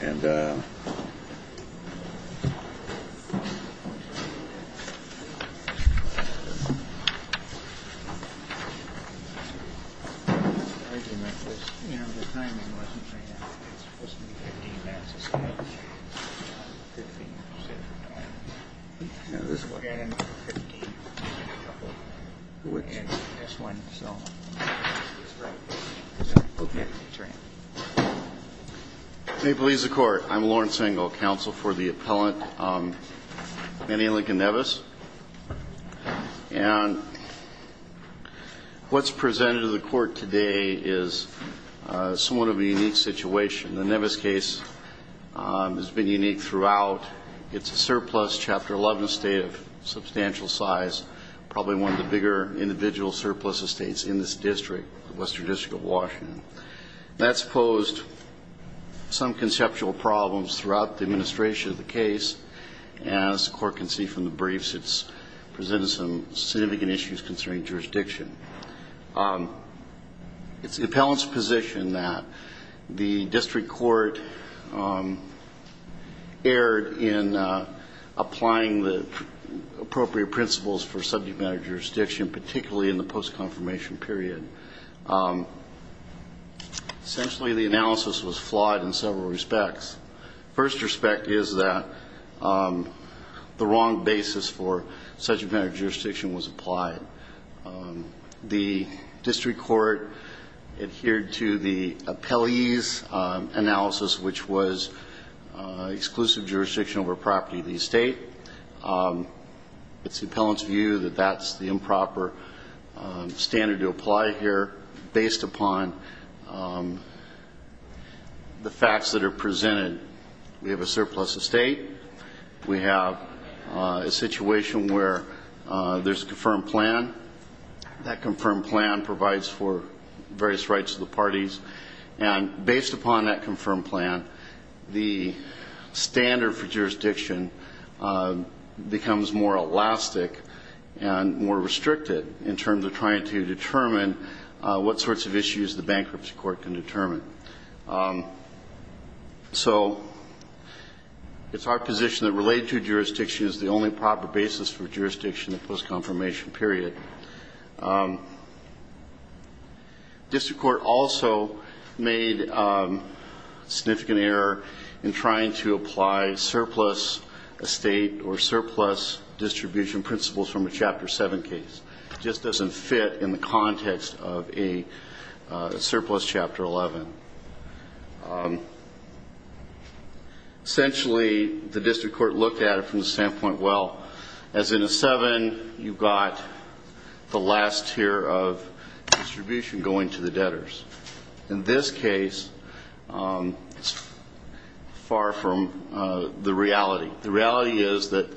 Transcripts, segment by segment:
And, uh, you know, the timing wasn't supposed to be 15 minutes, it's supposed to be 15 minutes at a time. And this one. May it please the court, I'm Lawrence Engel, counsel for the appellant, Manny Lincoln Neves. And what's presented to the court today is somewhat of a unique situation. The Neves case has been unique throughout. It's a surplus Chapter 11 estate of substantial size, probably one of the bigger individual surplus estates in this district, Western District of Washington. That's posed some conceptual problems throughout the administration of the case. As the court can see from the briefs, it's presented some significant issues concerning jurisdiction. It's the appellant's position that the district court erred in applying the appropriate principles for subject matter jurisdiction, particularly in the post-confirmation period. Essentially, the analysis was flawed in several respects. The first respect is that the wrong basis for subject matter jurisdiction was applied. The district court adhered to the appellee's analysis, which was exclusive jurisdiction over property of the estate. It's the appellant's view that that's the improper standard to apply here based upon the facts that are presented. We have a surplus estate. We have a situation where there's a confirmed plan. That confirmed plan provides for various rights of the parties. And based upon that confirmed plan, the standard for jurisdiction becomes more elastic and more restricted in terms of trying to determine what sorts of issues the bankruptcy court can determine. So it's our position that related to jurisdiction is the only proper basis for jurisdiction in the post-confirmation period. District court also made significant error in trying to apply surplus estate or surplus distribution principles from a Chapter 7 case. It just doesn't fit in the context of a surplus Chapter 11. Essentially, the district court looked at it from the standpoint, well, as in a 7, you've got the last tier of distribution going to the debtors. In this case, it's far from the reality. The reality is that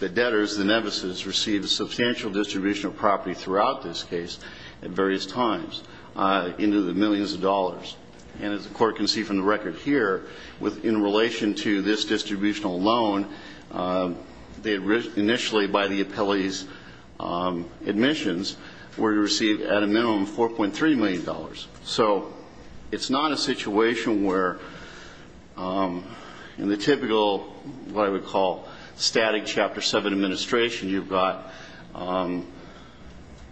the debtors, the nemesis, received a substantial distribution of property throughout this case at various times into the millions of dollars. And as the court can see from the record here, in relation to this distributional loan, initially by the appellee's admissions, were to receive at a minimum $4.3 million. So it's not a situation where in the typical, what I would call static Chapter 7 administration, you've got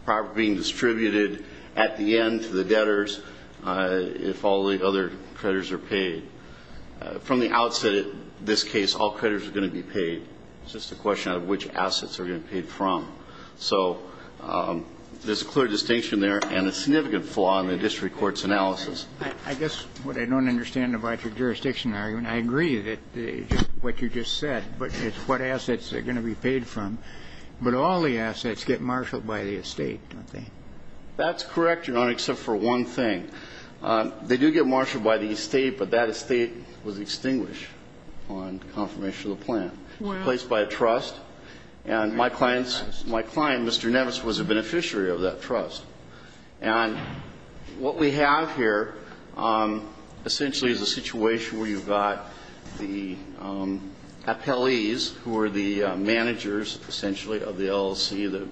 property being distributed at the end to the debtors if all the other creditors are paid. From the outset, in this case, all creditors are going to be paid. It's just a question of which assets are going to be paid from. So there's a clear distinction there and a significant flaw in the district court's analysis. I guess what I don't understand about your jurisdiction argument, I agree that what you just said, but it's what assets are going to be paid from. But all the assets get marshaled by the estate, don't they? That's correct, Your Honor, except for one thing. They do get marshaled by the estate, but that estate was extinguished on confirmation of the plan. It was replaced by a trust, and my client, Mr. Nevis, was a beneficiary of that trust. And what we have here essentially is a situation where you've got the appellees, who are the managers essentially of the LLC that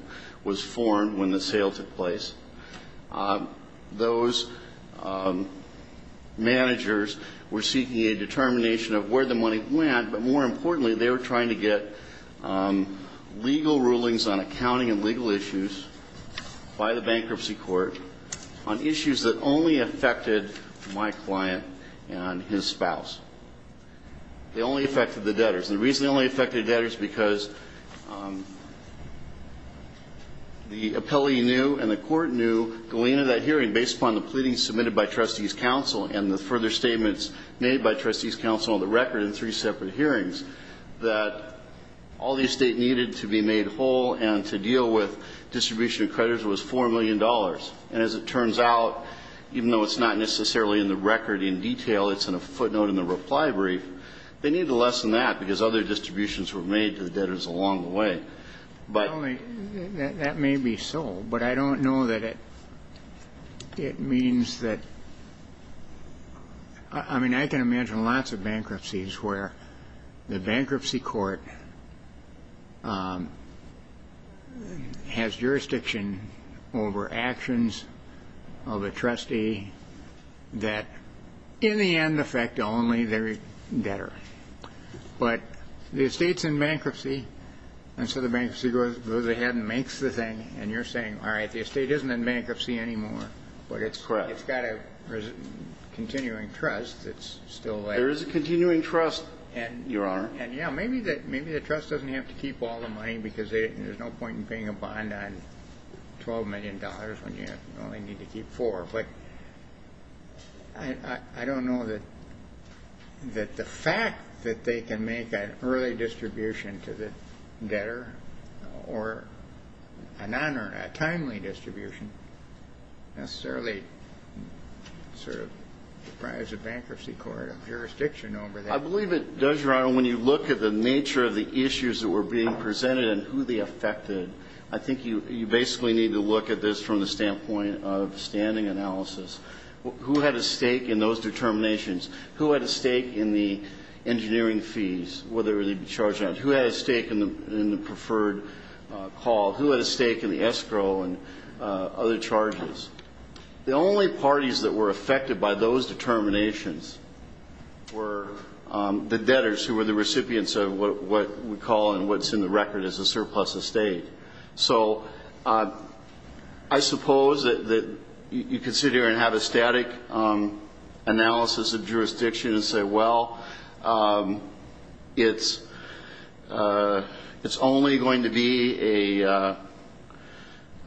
was formed when the sale took place. Those managers were seeking a determination of where the money went, but more importantly, they were trying to get legal rulings on accounting and legal issues by the bankruptcy court on issues that only affected my client and his spouse. They only affected the debtors, and the reason they only affected the debtors is because the appellee knew and the court knew going into that hearing based upon the pleadings submitted by trustees' counsel and the further statements made by trustees' counsel on the record in three separate hearings that all the estate needed to be made whole and to deal with distribution of creditors was $4 million. And as it turns out, even though it's not necessarily in the record in detail, it's in a footnote in the reply brief, they needed less than that because other distributions were made to the debtors along the way. That may be so, but I don't know that it means that. I mean, I can imagine lots of bankruptcies where the bankruptcy court has jurisdiction over actions of a trustee that in the end affect only their debtor. But the estate's in bankruptcy, and so the bankruptcy goes ahead and makes the thing, and you're saying, all right, the estate isn't in bankruptcy anymore, but it's got a continuing trust that's still there. There is a continuing trust, Your Honor. And, yeah, maybe the trust doesn't have to keep all the money because there's no point in paying a bond on $12 million when you only need to keep four. I don't know that the fact that they can make an early distribution to the debtor or a non-timely distribution necessarily sort of provides a bankruptcy court a jurisdiction over that. I believe it does, Your Honor, when you look at the nature of the issues that were being presented and who they affected. I think you basically need to look at this from the standpoint of standing analysis. Who had a stake in those determinations? Who had a stake in the engineering fees, whether they be charged or not? Who had a stake in the preferred call? Who had a stake in the escrow and other charges? The only parties that were affected by those determinations were the debtors, who were the recipients of what we call and what's in the record as a surplus estate. So I suppose that you consider and have a static analysis of jurisdiction and say, well, it's only going to be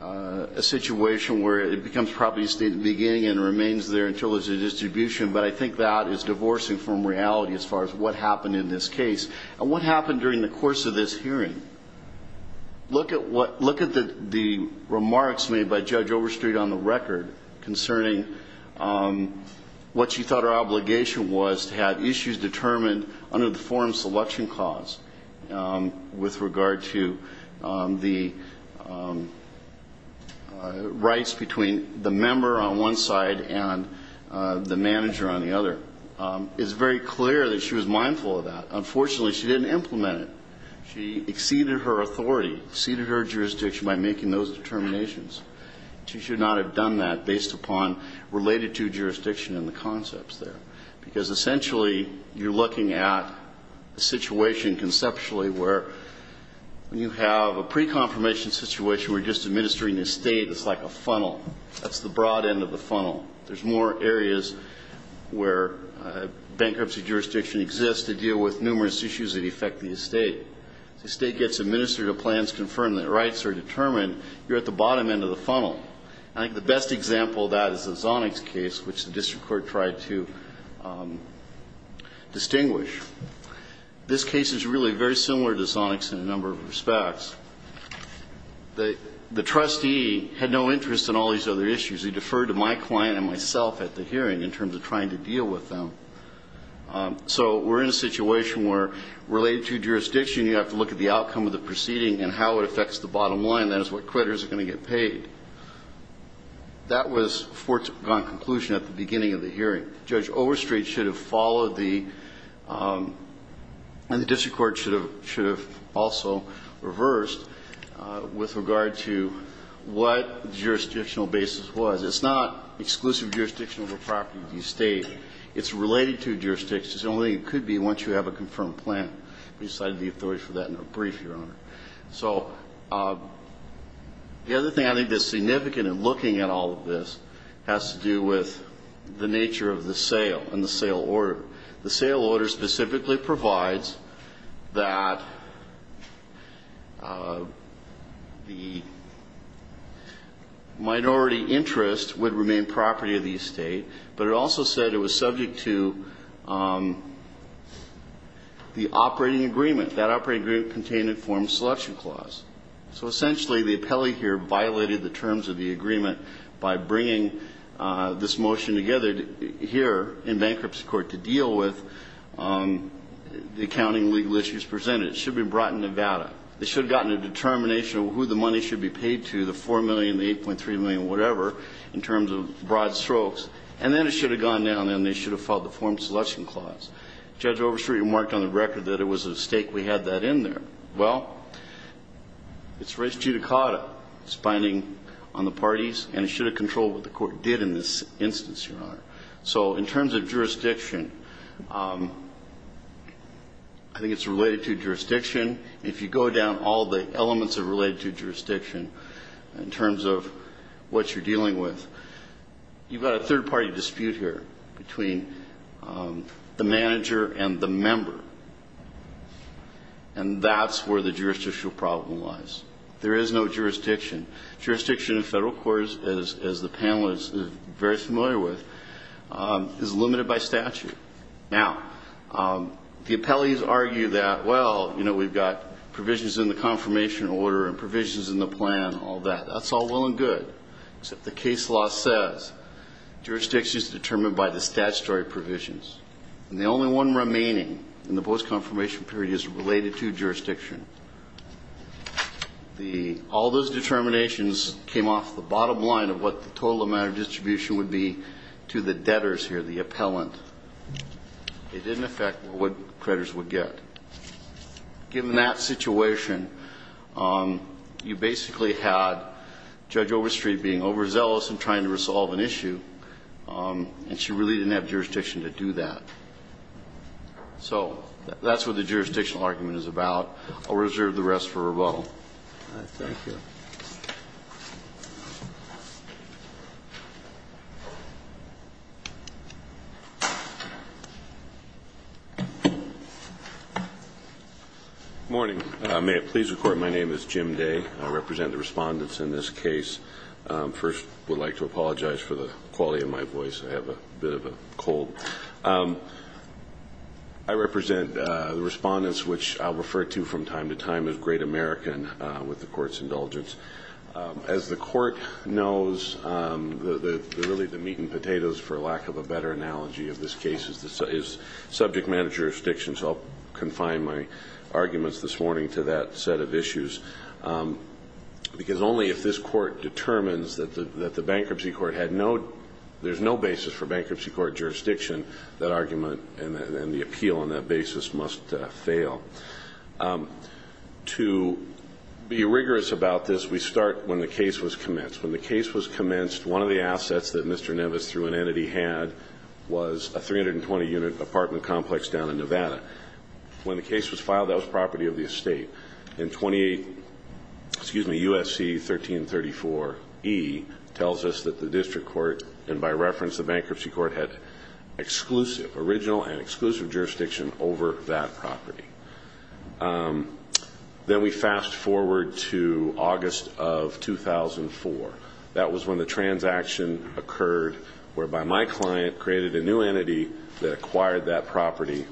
a situation where it becomes probably a state at the beginning and remains there until there's a distribution, but I think that is divorcing from reality as far as what happened in this case and what happened during the course of this hearing. Look at the remarks made by Judge Overstreet on the record concerning what she thought her obligation was to have issues determined under the forum selection clause with regard to the rights between the member on one side and the manager on the other. It's very clear that she was mindful of that. Unfortunately, she didn't implement it. She exceeded her authority, exceeded her jurisdiction by making those determinations. She should not have done that based upon related to jurisdiction in the concepts there, because essentially you're looking at a situation conceptually where you have a pre-confirmation situation That's the broad end of the funnel. There's more areas where bankruptcy jurisdiction exists to deal with numerous issues that affect the estate. As the estate gets administered, the plans confirm that rights are determined, you're at the bottom end of the funnel. I think the best example of that is the Zonix case, which the district court tried to distinguish. This case is really very similar to Zonix in a number of respects. The trustee had no interest in all these other issues. He deferred to my client and myself at the hearing in terms of trying to deal with them. So we're in a situation where related to jurisdiction, you have to look at the outcome of the proceeding and how it affects the bottom line. That is what creditors are going to get paid. Judge Overstreet should have followed the, and the district court should have also reversed, with regard to what the jurisdictional basis was. It's not exclusive jurisdiction over property of the estate. It's related to jurisdiction. It only could be once you have a confirmed plan. So the other thing I think that's significant in looking at all of this has to do with the nature of the sale and the sale order. The sale order specifically provides that the minority interest would remain property of the estate, but it also said it was subject to the operating agreement. That operating agreement contained a form selection clause. So essentially the appellee here violated the terms of the agreement by bringing this motion together here in bankruptcy court to deal with the accounting legal issues presented. It should have been brought in Nevada. They should have gotten a determination of who the money should be paid to, the $4 million, the $8.3 million, whatever, in terms of broad strokes. And then it should have gone down and they should have filed the form selection clause. Judge Overstreet remarked on the record that it was at a stake we had that in there. Well, it's res judicata. It's binding on the parties, and it should have controlled what the court did in this instance, Your Honor. So in terms of jurisdiction, I think it's related to jurisdiction. If you go down all the elements that are related to jurisdiction in terms of what you're dealing with, you've got a third-party dispute here between the manager and the member, and that's where the jurisdictional problem lies. There is no jurisdiction. Jurisdiction in federal courts, as the panel is very familiar with, is limited by statute. Now, the appellees argue that, well, you know, we've got provisions in the confirmation order and provisions in the plan, all that. That's all well and good, except the case law says jurisdiction is determined by the statutory provisions, and the only one remaining in the post-confirmation period is related to jurisdiction. All those determinations came off the bottom line of what the total amount of distribution would be to the debtors here, the appellant. It didn't affect what creditors would get. Given that situation, you basically had Judge Overstreet being overzealous in trying to resolve an issue, and she really didn't have jurisdiction to do that. So that's what the jurisdictional argument is about. I'll reserve the rest for rebuttal. Thank you. Good morning. May it please the Court, my name is Jim Day. I represent the respondents in this case. First, I would like to apologize for the quality of my voice. I have a bit of a cold. I represent the respondents, which I'll refer to from time to time as Great American, with the Court's indulgence. As the Court knows, really the meat and potatoes, for lack of a better analogy of this case, is subject matter jurisdiction. So I'll confine my arguments this morning to that set of issues. Because only if this Court determines that there's no basis for bankruptcy court jurisdiction, that argument and the appeal on that basis must fail. To be rigorous about this, we start when the case was commenced. When the case was commenced, one of the assets that Mr. Nevis, through an entity, had was a 320-unit apartment complex down in Nevada. When the case was filed, that was property of the estate. And U.S.C. 1334E tells us that the district court, and by reference, the bankruptcy court, had exclusive, original and exclusive jurisdiction over that property. Then we fast forward to August of 2004. That was when the transaction occurred, whereby my client created a new entity that acquired that property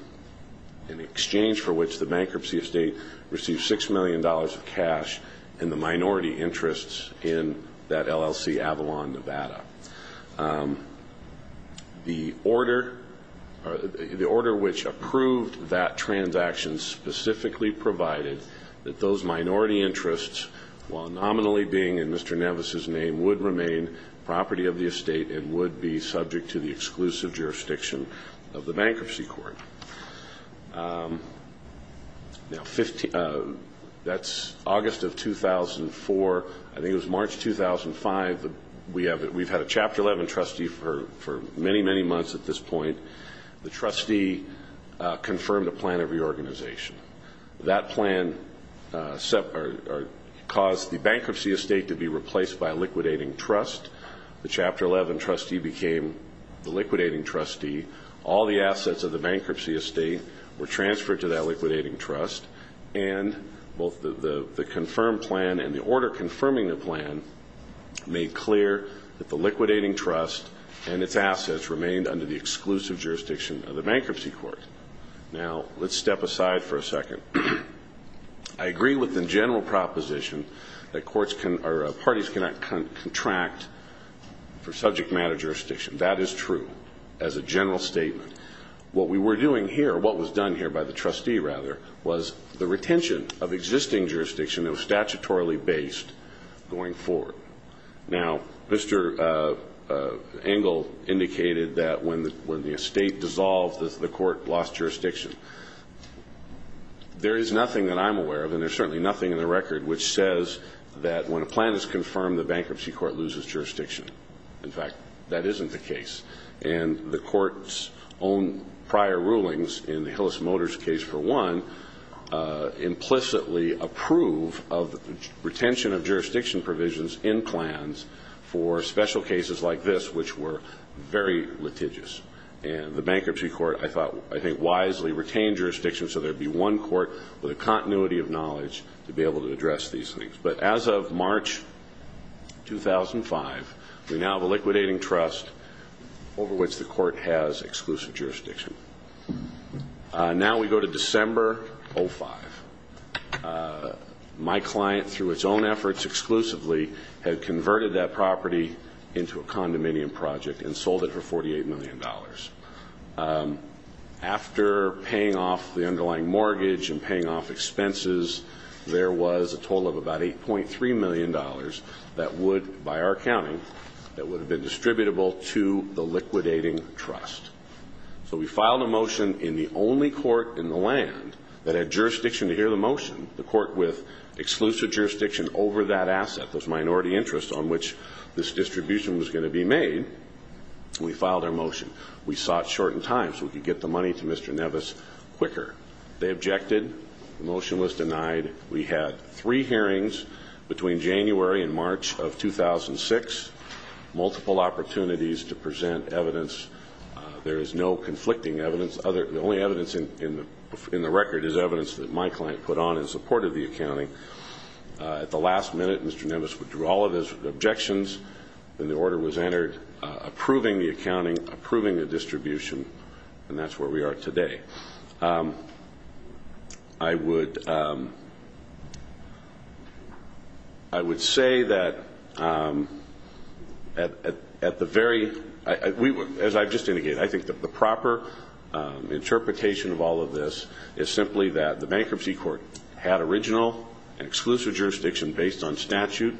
in exchange for which the bankruptcy estate received $6 million of cash and the minority interests in that LLC, Avalon, Nevada. The order which approved that transaction specifically provided that those minority interests, while nominally being in Mr. Nevis's name, would remain property of the estate and would be subject to the exclusive jurisdiction of the bankruptcy court. That's August of 2004. I think it was March 2005. We've had a Chapter 11 trustee for many, many months at this point. The trustee confirmed a plan of reorganization. That plan caused the bankruptcy estate to be replaced by a liquidating trust. The Chapter 11 trustee became the liquidating trustee. All the assets of the bankruptcy estate were transferred to that liquidating trust, and both the confirmed plan and the order confirming the plan made clear that the liquidating trust and its assets remained under the exclusive jurisdiction of the bankruptcy court. I agree with the general proposition that parties cannot contract for subject matter jurisdiction. That is true as a general statement. What we were doing here, what was done here by the trustee, rather, was the retention of existing jurisdiction that was statutorily based going forward. Now, Mr. Engel indicated that when the estate dissolved, the court lost jurisdiction. There is nothing that I'm aware of, and there's certainly nothing in the record, which says that when a plan is confirmed, the bankruptcy court loses jurisdiction. In fact, that isn't the case. And the court's own prior rulings in the Hillis Motors case, for one, implicitly approve of retention of jurisdiction provisions in plans for special cases like this, which were very litigious. And the bankruptcy court, I think, wisely retained jurisdiction so there would be one court with a continuity of knowledge to be able to address these things. But as of March 2005, we now have a liquidating trust over which the court has exclusive jurisdiction. Now we go to December 2005. My client, through its own efforts exclusively, had converted that property into a condominium project and sold it for $48 million. After paying off the underlying mortgage and paying off expenses, there was a total of about $8.3 million that would, by our accounting, that would have been distributable to the liquidating trust. So we filed a motion in the only court in the land that had jurisdiction to hear the motion, the court with exclusive jurisdiction over that asset, those minority interests on which this distribution was going to be made. We filed our motion. We saw it short in time so we could get the money to Mr. Nevis quicker. They objected. The motion was denied. We had three hearings between January and March of 2006, multiple opportunities to present evidence. There is no conflicting evidence. The only evidence in the record is evidence that my client put on in support of the accounting. At the last minute, Mr. Nevis withdrew all of his objections, and the order was entered approving the accounting, approving the distribution, and that's where we are today. I would say that at the very, as I've just indicated, I think that the proper interpretation of all of this is simply that the bankruptcy court had original and exclusive jurisdiction based on statute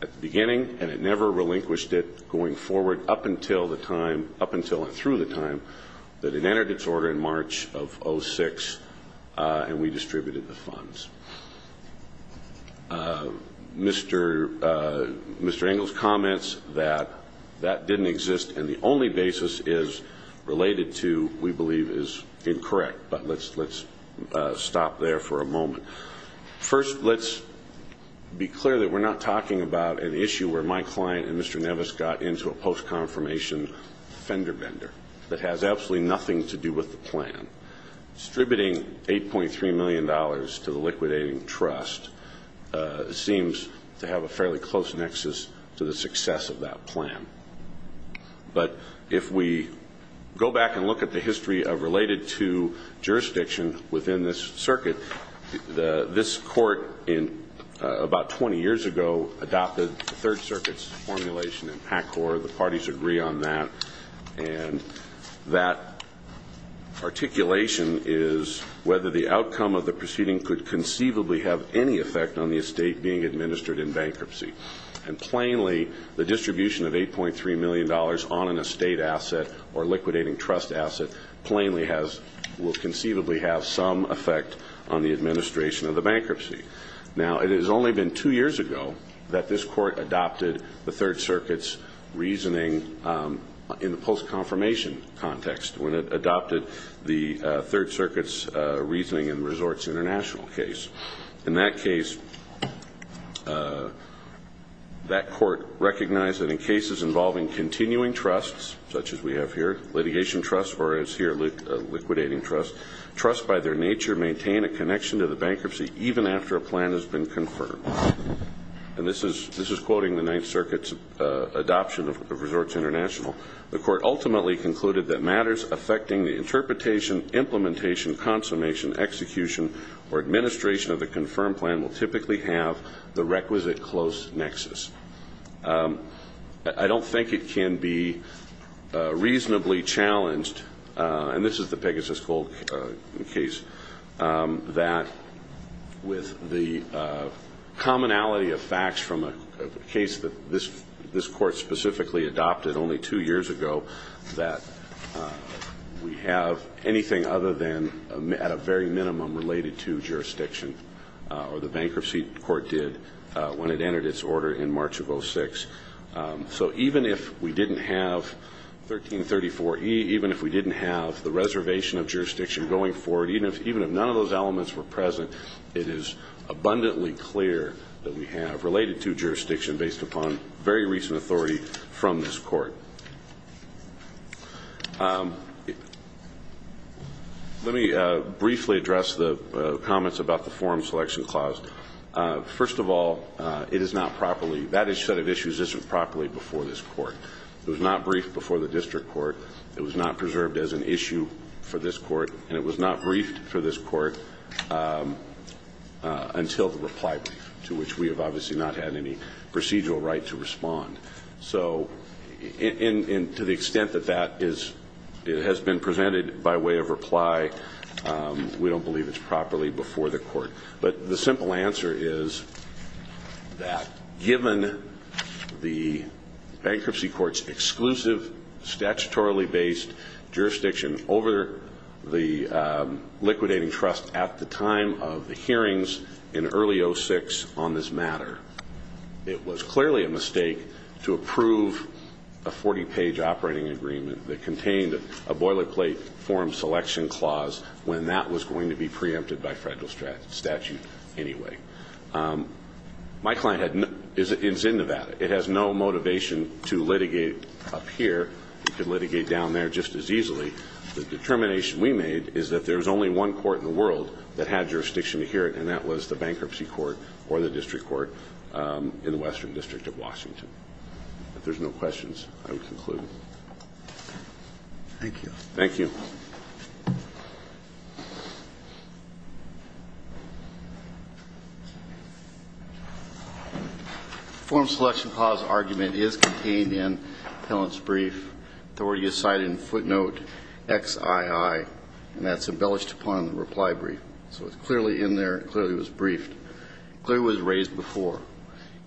at the beginning, and it never relinquished it going forward up until the time, up until and through the time, that it entered its order in March of 2006, and we distributed the funds. Mr. Engel's comments that that didn't exist and the only basis is related to we believe is incorrect, but let's stop there for a moment. First, let's be clear that we're not talking about an issue where my client and Mr. Nevis got into a post-confirmation fender bender that has absolutely nothing to do with the plan. Distributing $8.3 million to the liquidating trust seems to have a fairly close nexus to the success of that plan. But if we go back and look at the history of related to jurisdiction within this circuit, this court about 20 years ago adopted the Third Circuit's formulation in PACCOR. The parties agree on that, and that articulation is whether the outcome of the proceeding could conceivably have any effect on the estate being administered in bankruptcy. And plainly, the distribution of $8.3 million on an estate asset or liquidating trust asset plainly will conceivably have some effect on the administration of the bankruptcy. Now, it has only been two years ago that this court adopted the Third Circuit's reasoning in the post-confirmation context when it adopted the Third Circuit's reasoning in the Resorts International case. In that case, that court recognized that in cases involving continuing trusts, such as we have here, litigation trusts, or as here, liquidating trusts, trusts by their nature maintain a connection to the bankruptcy even after a plan has been confirmed. And this is quoting the Ninth Circuit's adoption of Resorts International. The court ultimately concluded that matters affecting the interpretation, implementation, consummation, execution, or administration of the confirmed plan will typically have the requisite close nexus. I don't think it can be reasonably challenged, and this is the Pegasus Gold case, that with the commonality of facts from a case that this court specifically adopted only two years ago, that we have anything other than at a very minimum related to jurisdiction, or the bankruptcy court did when it entered its order in March of 2006. So even if we didn't have 1334E, even if we didn't have the reservation of jurisdiction going forward, even if none of those elements were present, it is abundantly clear that we have related to jurisdiction based upon very recent authority from this court. Let me briefly address the comments about the forum selection clause. First of all, it is not properly, that set of issues isn't properly before this court. It was not briefed before the district court. It was not preserved as an issue for this court, and it was not briefed for this court until the reply brief, to which we have obviously not had any procedural right to respond. So to the extent that that has been presented by way of reply, we don't believe it's properly before the court. But the simple answer is that given the bankruptcy court's exclusive statutorily based jurisdiction over the liquidating trust at the time of the hearings in early 2006 on this matter, it was clearly a mistake to approve a 40-page operating agreement that contained a boilerplate forum selection clause when that was going to be preempted by federal statute anyway. My client is in Nevada. It has no motivation to litigate up here. It could litigate down there just as easily. The determination we made is that there's only one court in the world that had jurisdiction to hear it, and that was the bankruptcy court or the district court in the Western District of Washington. If there's no questions, I would conclude. Thank you. Thank you. The forum selection clause argument is contained in the appellant's brief authority aside in footnote XII, and that's embellished upon the reply brief. So it's clearly in there. It clearly was briefed. It clearly was raised before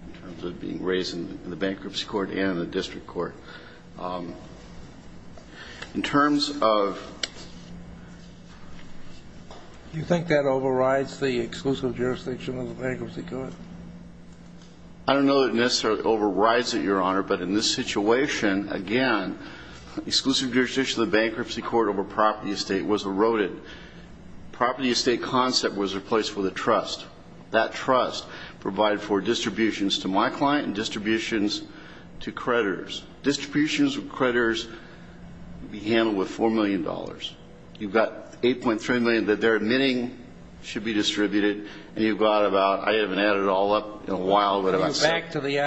in terms of being raised in the bankruptcy court and in the district court. In terms of do you think that overrides the exclusive jurisdiction of the bankruptcy court? I don't know that it necessarily overrides it, Your Honor, but in this situation, again, exclusive jurisdiction of the bankruptcy court over property estate was eroded. Property estate concept was replaced with a trust. That trust provided for distributions to my client and distributions to creditors. Distributions to creditors would be handled with $4 million. You've got $8.3 million that they're admitting should be distributed, and you go out about I haven't added it all up in a while. Are you going back to the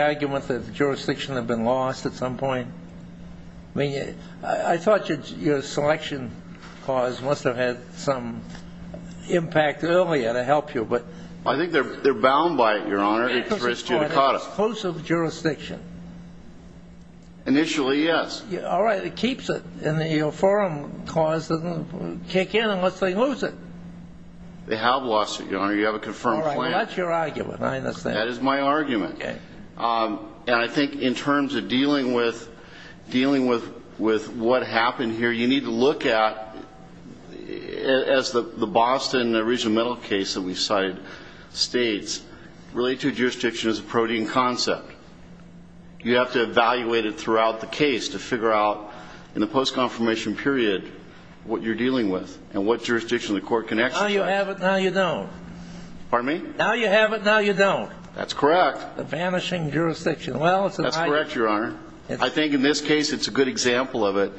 argument that the jurisdiction had been lost at some point? I thought your selection clause must have had some impact earlier to help you. I think they're bound by it, Your Honor. Exclusive jurisdiction. Initially, yes. All right. It keeps it. And the forum clause doesn't kick in unless they lose it. They have lost it, Your Honor. You have a confirmed claim. All right. Well, that's your argument. I understand. That is my argument. Okay. And I think in terms of dealing with what happened here, you need to look at, as the Boston original case that we cited states, related jurisdiction is a protean concept. You have to evaluate it throughout the case to figure out in the post-confirmation period what you're dealing with and what jurisdiction the court can exercise. Now you have it, now you don't. Pardon me? Now you have it, now you don't. That's correct. A vanishing jurisdiction. That's correct, Your Honor. I think in this case it's a good example of it.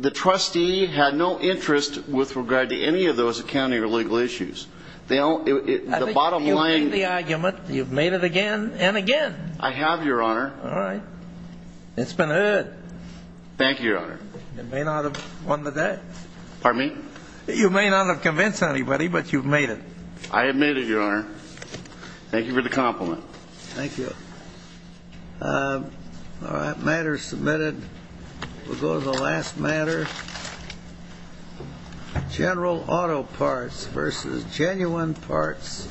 The trustee had no interest with regard to any of those accounting or legal issues. The bottom line You've made the argument. You've made it again and again. I have, Your Honor. All right. It's been heard. Thank you, Your Honor. You may not have won the day. Pardon me? You may not have convinced anybody, but you've made it. I have made it, Your Honor. Thank you for the compliment. Thank you. All right. Matter submitted. We'll go to the last matter. General Auto Parts v. Genuine Parts Company.